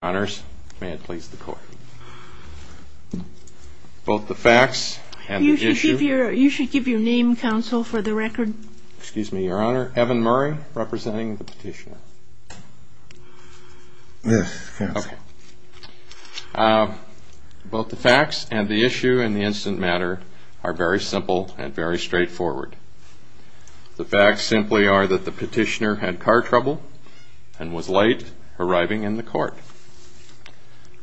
Honours, may it please the court. Both the facts and the issue. You should give your name, counsel, for the record. Excuse me, Your Honour. Evan Murray, representing the petitioner. Yes, counsel. Both the facts and the issue in the instant matter are very simple and very straightforward. The facts simply are that the petitioner had car trouble and was late arriving in the court.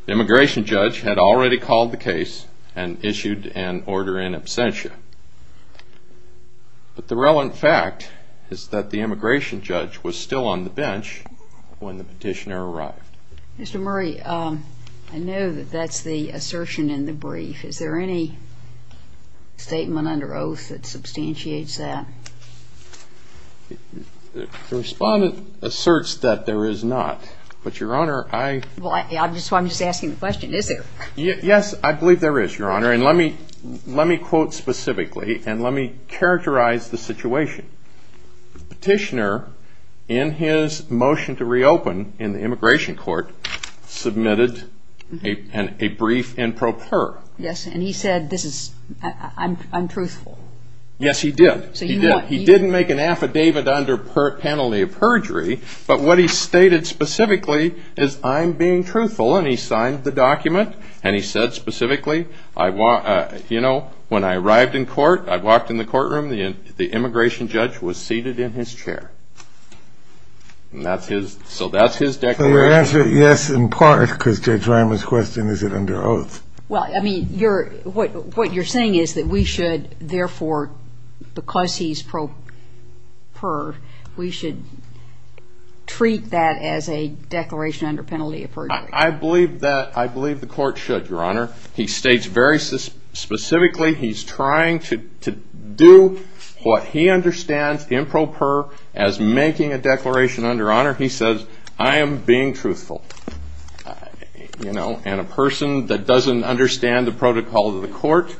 The immigration judge had already called the case and issued an order in absentia. But the relevant fact is that the immigration judge was still on the bench when the petitioner arrived. Mr. Murray, I know that that's the assertion in the brief. Is there any statement under oath that substantiates that? The respondent asserts that there is not. But, Your Honour, I... Well, that's why I'm just asking the question. Is there? Yes, I believe there is, Your Honour. And let me quote specifically and let me characterize the situation. The petitioner, in his motion to reopen in the immigration court, submitted a brief in pro per. Yes, and he said this is... I'm truthful. Yes, he did. He did. He didn't make an affidavit under penalty of perjury. But what he stated specifically is, I'm being truthful. And he signed the document. And he said specifically, you know, when I arrived in court, I walked in the courtroom, the immigration judge was seated in his chair. And that's his... So that's his declaration. So your answer, yes, in part, because Judge Reimer's question, is it under oath? Well, I mean, what you're saying is that we should, therefore, because he's pro per, we should treat that as a declaration under penalty of perjury. I believe that... I believe the court should, Your Honour. He states very specifically he's trying to do what he understands in pro per as making a declaration under honour. He says, I am being truthful. You know, and a person that doesn't understand the protocol of the court,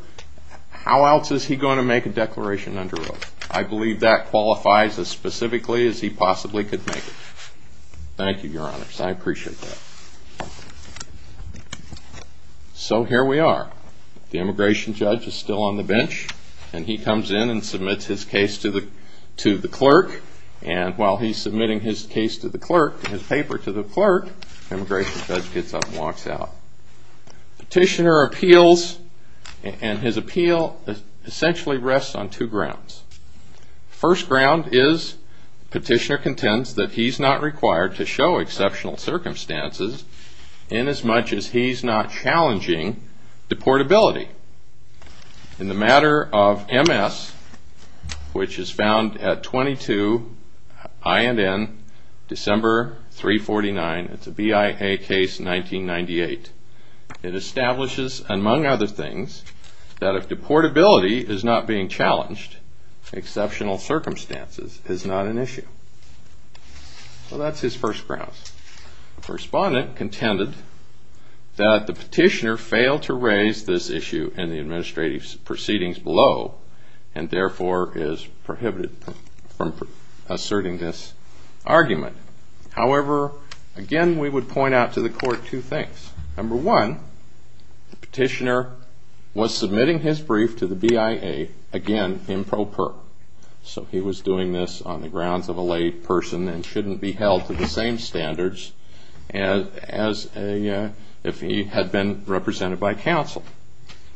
how else is he going to make a declaration under oath? I believe that qualifies as specifically as he possibly could make it. Thank you, Your Honour. I appreciate that. So here we are. The immigration judge is still on the bench. And he comes in and submits his case to the clerk. And while he's submitting his case to the clerk, his paper to the clerk, the immigration judge gets up and walks out. Petitioner appeals, and his appeal essentially rests on two grounds. First ground is petitioner contends that he's not required to show exceptional circumstances in as much as he's not challenging deportability. In the matter of MS, which is found at 22 INN, December 349, it's a BIA case, 1998. It establishes, among other things, that if deportability is not being challenged, exceptional circumstances is not an issue. So that's his first grounds. Respondent contended that the petitioner failed to raise this issue in the administrative proceedings below and therefore is prohibited from asserting this argument. However, again, we would point out to the court two things. Number one, the petitioner was submitting his brief to the BIA, again, improper. So he was doing this on the grounds of a lay person and shouldn't be held to the same standards as if he had been represented by counsel.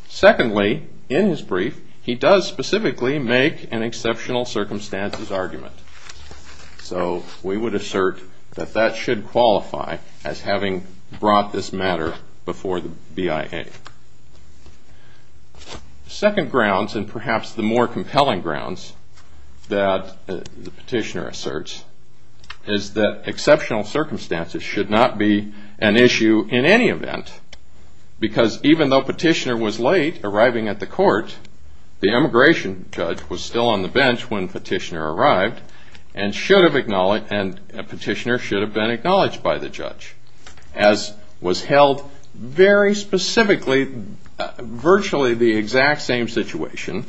Secondly, in his brief, he does specifically make an exceptional circumstances argument. So we would assert that that should qualify as having brought this matter before the BIA. Second grounds and perhaps the more compelling grounds that the petitioner asserts is that exceptional circumstances should not be an issue in any event because even though petitioner was late arriving at the court, the immigration judge was still on the bench when petitioner arrived and petitioner should have been acknowledged by the judge as was held very specifically, virtually the exact same situation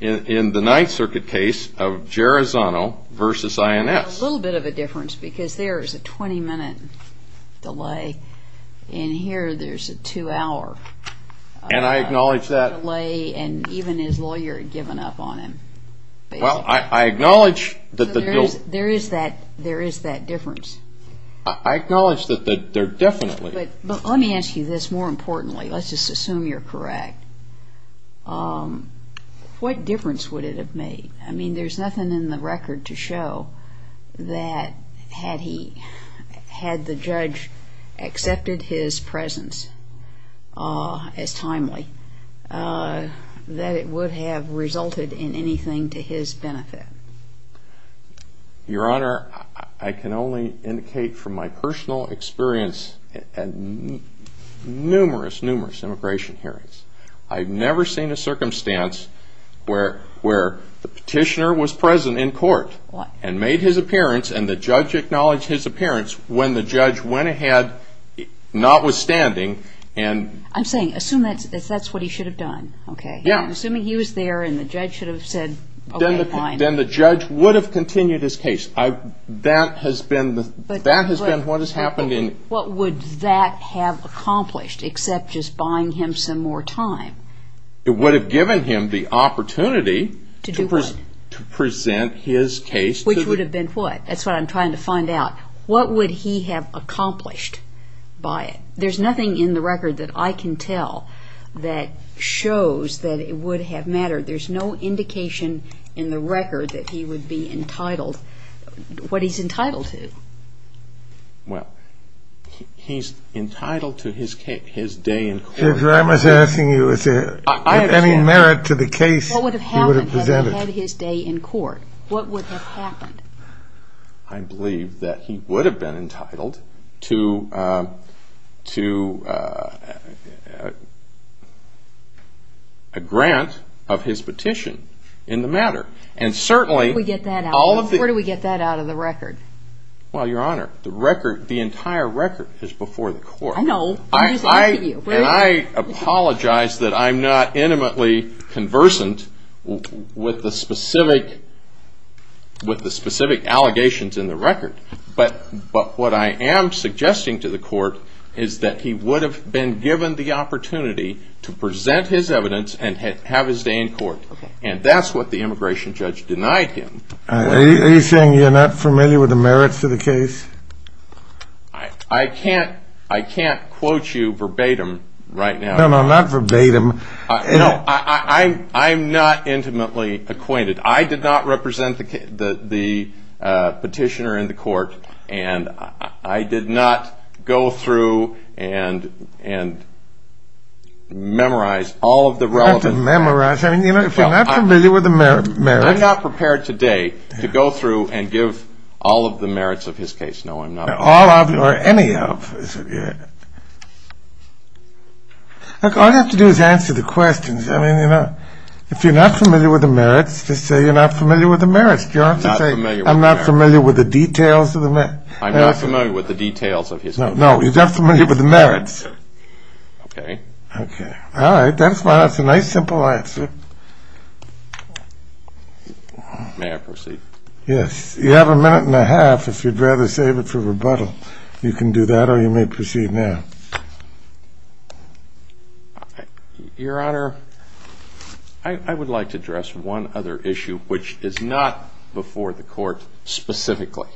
in the Ninth Circuit case of Gerizano versus INS. A little bit of a difference because there is a 20-minute delay. In here, there's a two-hour delay. And even his lawyer had given up on him. Well, I acknowledge that the bill – There is that difference. I acknowledge that there definitely – But let me ask you this more importantly. Let's just assume you're correct. What difference would it have made? I mean, there's nothing in the record to show that had he – had the judge accepted his presence as timely, that it would have resulted in anything to his benefit. Your Honor, I can only indicate from my personal experience at numerous, numerous immigration hearings, I've never seen a circumstance where the petitioner was present in court and made his appearance and the judge acknowledged his appearance when the judge went ahead notwithstanding and – I'm saying assume that's what he should have done, okay? Yeah. I'm assuming he was there and the judge should have said, okay, fine. Then the judge would have continued his case. That has been what has happened in – What would that have accomplished except just buying him some more time? It would have given him the opportunity to present his case to the – Which would have been what? That's what I'm trying to find out. What would he have accomplished by it? There's nothing in the record that I can tell that shows that it would have mattered. There's no indication in the record that he would be entitled – what he's entitled to. Well, he's entitled to his day in court. Judge, what I'm asking you is if any merit to the case he would have presented. What would have happened had he had his day in court? What would have happened? I believe that he would have been entitled to a grant of his petition in the matter. And certainly all of the – Well, Your Honor, the entire record is before the court. I know. And I apologize that I'm not intimately conversant with the specific allegations in the record. But what I am suggesting to the court is that he would have been given the opportunity to present his evidence and have his day in court. And that's what the immigration judge denied him. Are you saying you're not familiar with the merits to the case? I can't quote you verbatim right now. No, no, not verbatim. No, I'm not intimately acquainted. I did not represent the petitioner in the court, and I did not go through and memorize all of the relevant – Not to memorize. I mean, if you're not familiar with the merits – I'm not prepared today to go through and give all of the merits of his case. No, I'm not. All of or any of. Look, all you have to do is answer the questions. I mean, you know, if you're not familiar with the merits, just say you're not familiar with the merits. Do you have to say, I'm not familiar with the details of the merits? I'm not familiar with the details of his case. No, you're not familiar with the merits. Okay. Okay. All right. That's a nice, simple answer. May I proceed? Yes. You have a minute and a half, if you'd rather save it for rebuttal. You can do that or you may proceed now. Your Honor, I would like to address one other issue, which is not before the court specifically.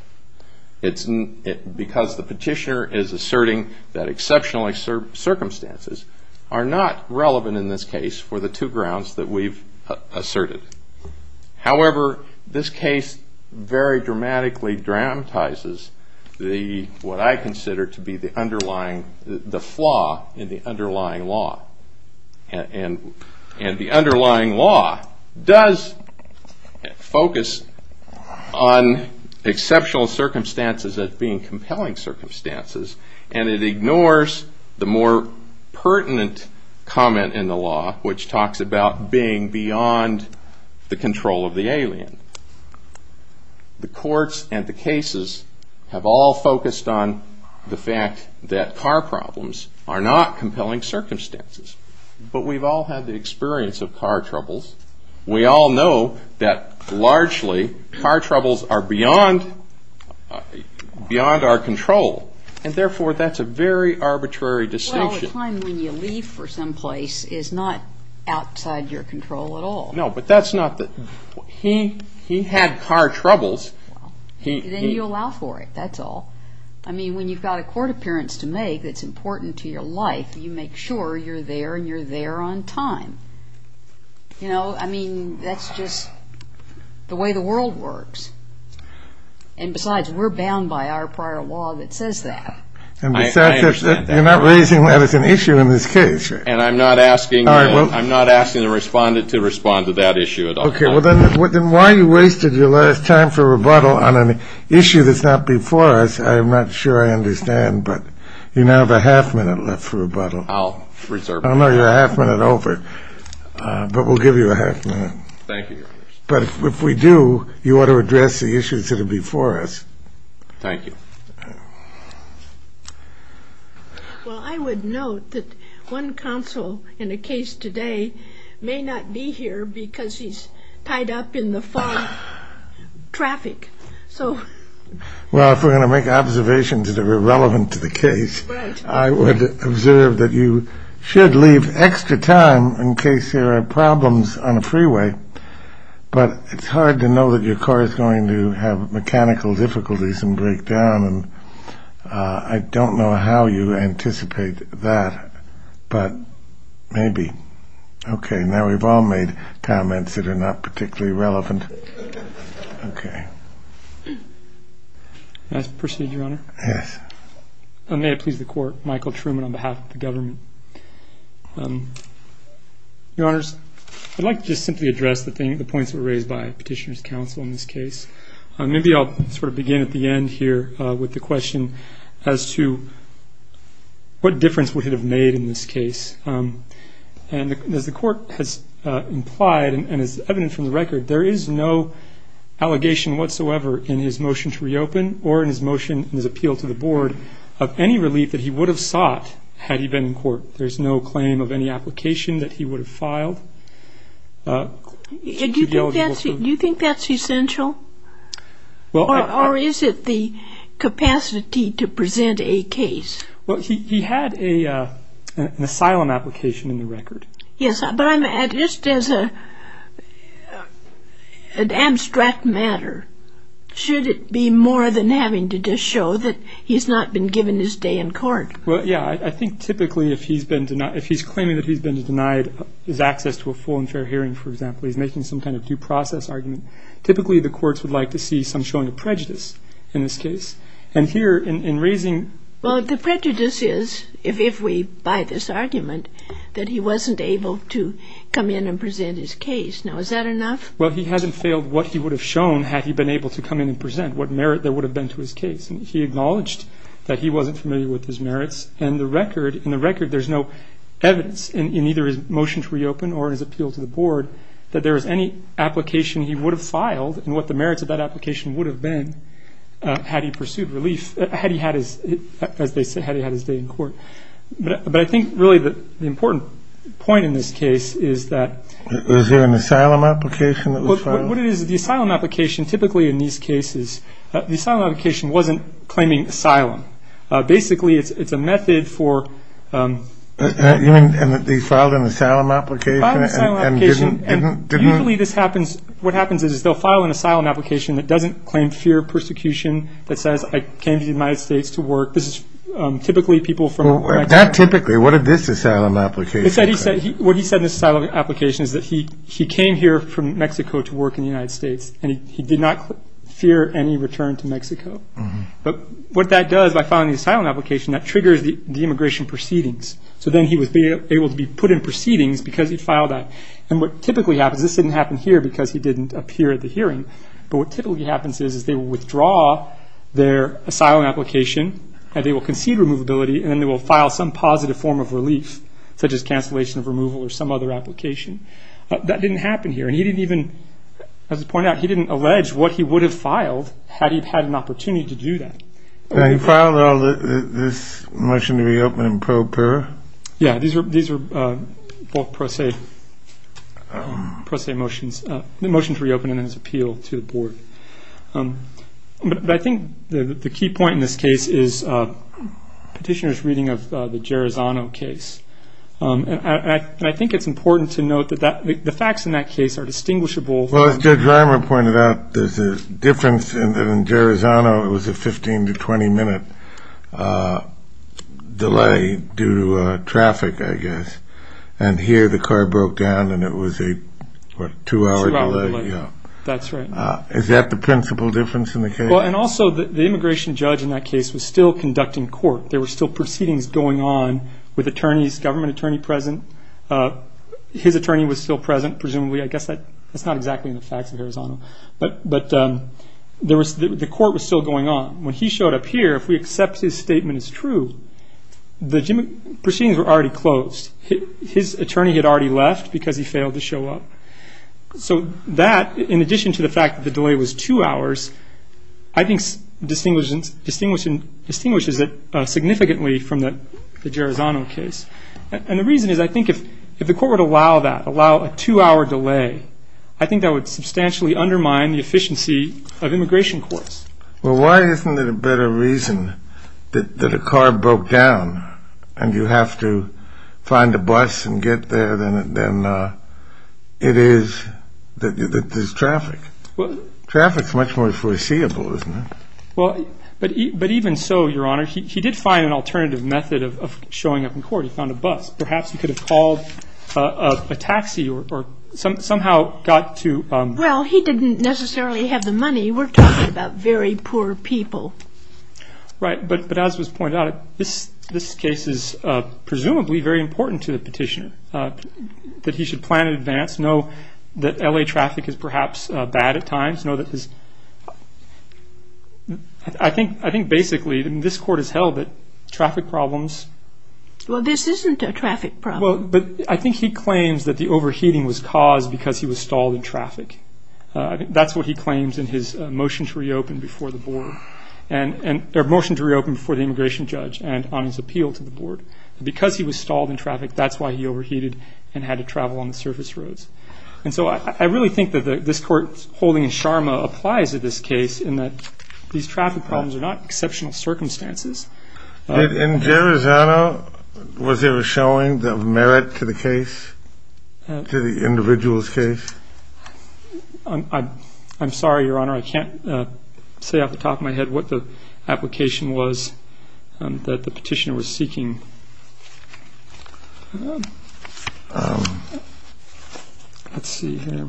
It's because the petitioner is asserting that exceptional circumstances are not relevant in this case for the two grounds that we've asserted. However, this case very dramatically dramatizes what I consider to be the underlying – the flaw in the underlying law. And the underlying law does focus on exceptional circumstances as being compelling circumstances, and it ignores the more pertinent comment in the law, which talks about being beyond the control of the alien. The courts and the cases have all focused on the fact that car problems are not compelling circumstances. But we've all had the experience of car troubles. We all know that largely car troubles are beyond our control, and therefore that's a very arbitrary distinction. Well, a time when you leave for some place is not outside your control at all. No, but that's not the – he had car troubles. Then you allow for it, that's all. I mean, when you've got a court appearance to make that's important to your life, you make sure you're there and you're there on time. You know, I mean, that's just the way the world works. And besides, we're bound by our prior law that says that. And besides, you're not raising that as an issue in this case. And I'm not asking the respondent to respond to that issue at all. Okay. Well, then why you wasted your last time for rebuttal on an issue that's not before us, I'm not sure I understand, but you now have a half minute left for rebuttal. I'll reserve it. I know you're a half minute over, but we'll give you a half minute. Thank you, Your Honor. But if we do, you ought to address the issues that are before us. Thank you. Well, I would note that one counsel in a case today may not be here because he's tied up in the fog traffic. Well, if we're going to make observations that are relevant to the case, I would observe that you should leave extra time in case there are problems on a freeway. But it's hard to know that your car is going to have mechanical difficulties and break down, and I don't know how you anticipate that, but maybe. Okay. Now we've all made comments that are not particularly relevant. Okay. May I proceed, Your Honor? Yes. May it please the Court, Michael Truman on behalf of the government. Your Honors, I'd like to just simply address the points that were raised by Petitioner's counsel in this case. Maybe I'll sort of begin at the end here with the question as to what difference would it have made in this case. And as the Court has implied and is evident from the record, there is no allegation whatsoever in his motion to reopen or in his motion in his appeal to the Board of any relief that he would have sought had he been in court. There's no claim of any application that he would have filed. Do you think that's essential? Or is it the capacity to present a case? Yes, but just as an abstract matter, should it be more than having to just show that he's not been given his day in court? Well, yeah. I think typically if he's claiming that he's been denied his access to a full and fair hearing, for example, he's making some kind of due process argument, typically the courts would like to see some showing of prejudice in this case. And here in raising... Well, the prejudice is, if we buy this argument, that he wasn't able to come in and present his case. Now, is that enough? Well, he hasn't failed what he would have shown had he been able to come in and present, what merit there would have been to his case. And he acknowledged that he wasn't familiar with his merits. And in the record, there's no evidence in either his motion to reopen or in his appeal to the Board that there was any application he would have filed and what the merits of that application would have been had he pursued relief, as they say, had he had his day in court. But I think really the important point in this case is that... Was there an asylum application that was filed? What it is, the asylum application, typically in these cases, the asylum application wasn't claiming asylum. Basically, it's a method for... You mean that they filed an asylum application and didn't... that says, I came to the United States to work. This is typically people from... Not typically. What did this asylum application say? What he said in this asylum application is that he came here from Mexico to work in the United States and he did not fear any return to Mexico. But what that does, by filing the asylum application, that triggers the immigration proceedings. So then he was able to be put in proceedings because he filed that. And what typically happens, this didn't happen here because he didn't appear at the hearing, but what typically happens is they withdraw their asylum application, and they will concede removability, and then they will file some positive form of relief, such as cancellation of removal or some other application. That didn't happen here, and he didn't even... As I pointed out, he didn't allege what he would have filed had he had an opportunity to do that. He filed this motion to reopen in pro para. Yeah, these were both pro se motions. The motion to reopen and then his appeal to the board. But I think the key point in this case is petitioner's reading of the Gerozano case. And I think it's important to note that the facts in that case are distinguishable. Well, as Judge Reimer pointed out, there's a difference in that in Gerozano, it was a 15 to 20-minute delay due to traffic, I guess. And here the car broke down, and it was a two-hour delay. That's right. Is that the principal difference in the case? Well, and also the immigration judge in that case was still conducting court. There were still proceedings going on with attorneys, government attorney present. His attorney was still present, presumably. I guess that's not exactly in the facts of Gerozano. But the court was still going on. When he showed up here, if we accept his statement as true, the proceedings were already closed. His attorney had already left because he failed to show up. So that, in addition to the fact that the delay was two hours, I think distinguishes it significantly from the Gerozano case. And the reason is I think if the court would allow that, allow a two-hour delay, I think that would substantially undermine the efficiency of immigration courts. Well, why isn't there a better reason that a car broke down and you have to find a bus and get there than it is that there's traffic? Traffic's much more foreseeable, isn't it? Well, but even so, Your Honor, he did find an alternative method of showing up in court. He found a bus. Perhaps he could have called a taxi or somehow got to- Well, he didn't necessarily have the money. We're talking about very poor people. Right. But as was pointed out, this case is presumably very important to the petitioner, that he should plan in advance, know that L.A. traffic is perhaps bad at times, know that his- I think basically this court has held that traffic problems- Well, this isn't a traffic problem. Well, but I think he claims that the overheating was caused because he was stalled in traffic. That's what he claims in his motion to reopen before the board- or motion to reopen before the immigration judge and on his appeal to the board. Because he was stalled in traffic, that's why he overheated and had to travel on the surface roads. And so I really think that this court's holding in Sharma applies to this case in that these traffic problems are not exceptional circumstances. In Gerizano, was there a showing of merit to the case, to the individual's case? I'm sorry, Your Honor. I can't say off the top of my head what the application was that the petitioner was seeking. Let's see here.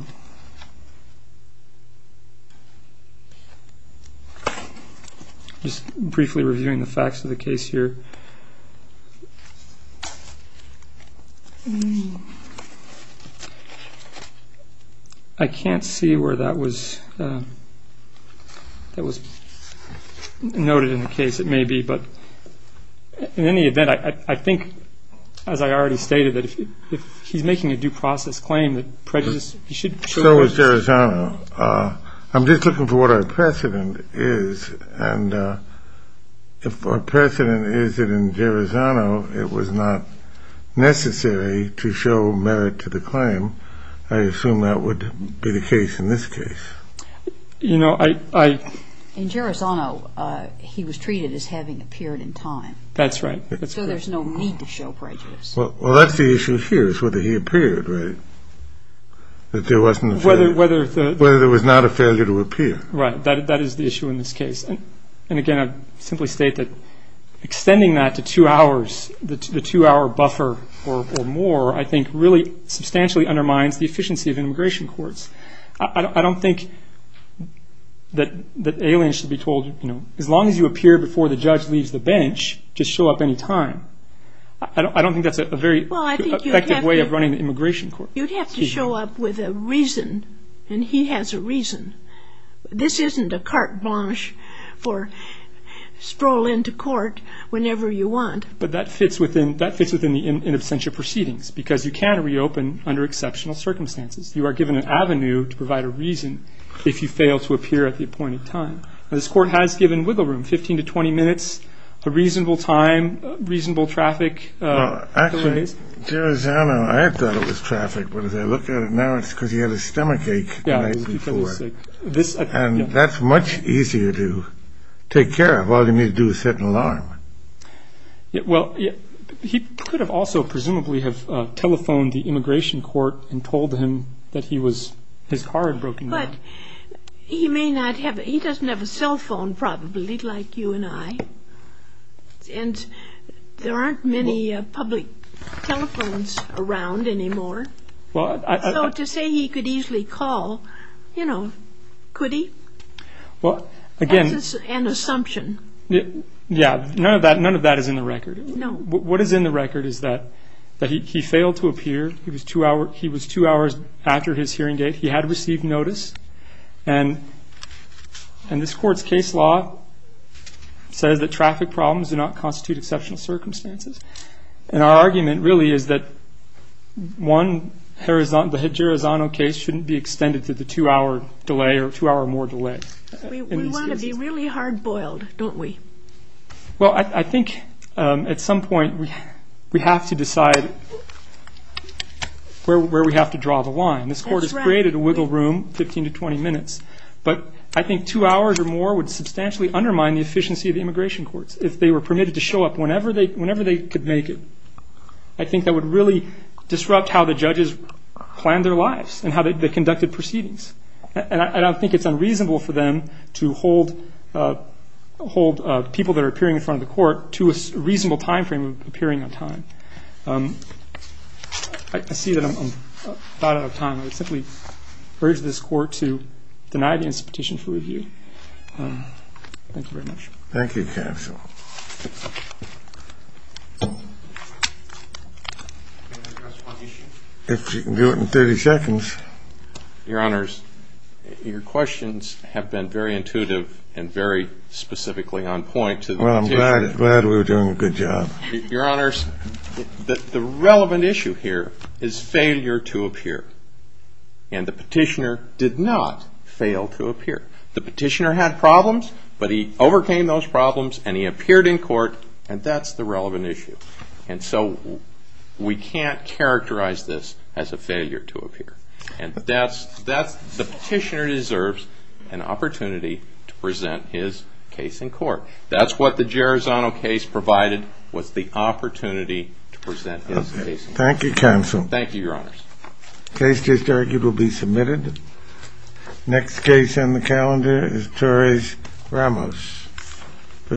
Just briefly reviewing the facts of the case here. I can't see where that was noted in the case. It may be, but in any event, I think, as I already stated, that if he's making a due process claim that prejudice- So is Gerizano. I'm just looking for what our precedent is. And if our precedent is that in Gerizano it was not necessary to show merit to the claim, I assume that would be the case in this case. You know, I- In Gerizano, he was treated as having appeared in time. That's right. So there's no need to show prejudice. Well, that's the issue here is whether he appeared, right? That there wasn't a failure. Whether the- Whether there was not a failure to appear. Right. That is the issue in this case. And, again, I'd simply state that extending that to two hours, the two-hour buffer or more, I think really substantially undermines the efficiency of immigration courts. I don't think that aliens should be told, you know, as long as you appear before the judge leaves the bench, just show up any time. I don't think that's a very effective way of running an immigration court. You'd have to show up with a reason, and he has a reason. This isn't a carte blanche for stroll into court whenever you want. But that fits within the in absentia proceedings because you can reopen under exceptional circumstances. You are given an avenue to provide a reason if you fail to appear at the appointed time. This court has given wiggle room, 15 to 20 minutes, a reasonable time, reasonable traffic. Actually, I thought it was traffic, but as I look at it now, it's because he had a stomachache. And that's much easier to take care of. All you need to do is set an alarm. Well, he could have also presumably have telephoned the immigration court and told him that his car had broken down. He doesn't have a cell phone probably like you and I, and there aren't many public telephones around anymore. So to say he could easily call, you know, could he? That's just an assumption. Yeah, none of that is in the record. What is in the record is that he failed to appear. He was two hours after his hearing date. He had received notice. And this court's case law says that traffic problems do not constitute exceptional circumstances. And our argument really is that one, the Jirazano case, shouldn't be extended to the two-hour delay or two-hour-or-more delay. We want to be really hard-boiled, don't we? Well, I think at some point we have to decide where we have to draw the line. This court is great at a wiggle room, 15 to 20 minutes, but I think two hours or more would substantially undermine the efficiency of the immigration courts if they were permitted to show up whenever they could make it. I think that would really disrupt how the judges planned their lives and how they conducted proceedings. And I don't think it's unreasonable for them to hold people that are appearing in front of the court to a reasonable time frame of appearing on time. I see that I'm about out of time. I would simply urge this court to deny the insistent petition for review. Thank you very much. Thank you, counsel. Can I address one issue? If you can do it in 30 seconds. Your Honors, your questions have been very intuitive and very specifically on point to the petition. Well, I'm glad we were doing a good job. Your Honors, the relevant issue here is failure to appear. And the petitioner did not fail to appear. The petitioner had problems, but he overcame those problems and he appeared in court, and that's the relevant issue. And so we can't characterize this as a failure to appear. The petitioner deserves an opportunity to present his case in court. That's what the Gerizano case provided, was the opportunity to present his case in court. Thank you, counsel. Thank you, Your Honors. The case is directed to be submitted. Next case on the calendar is Torres-Ramos.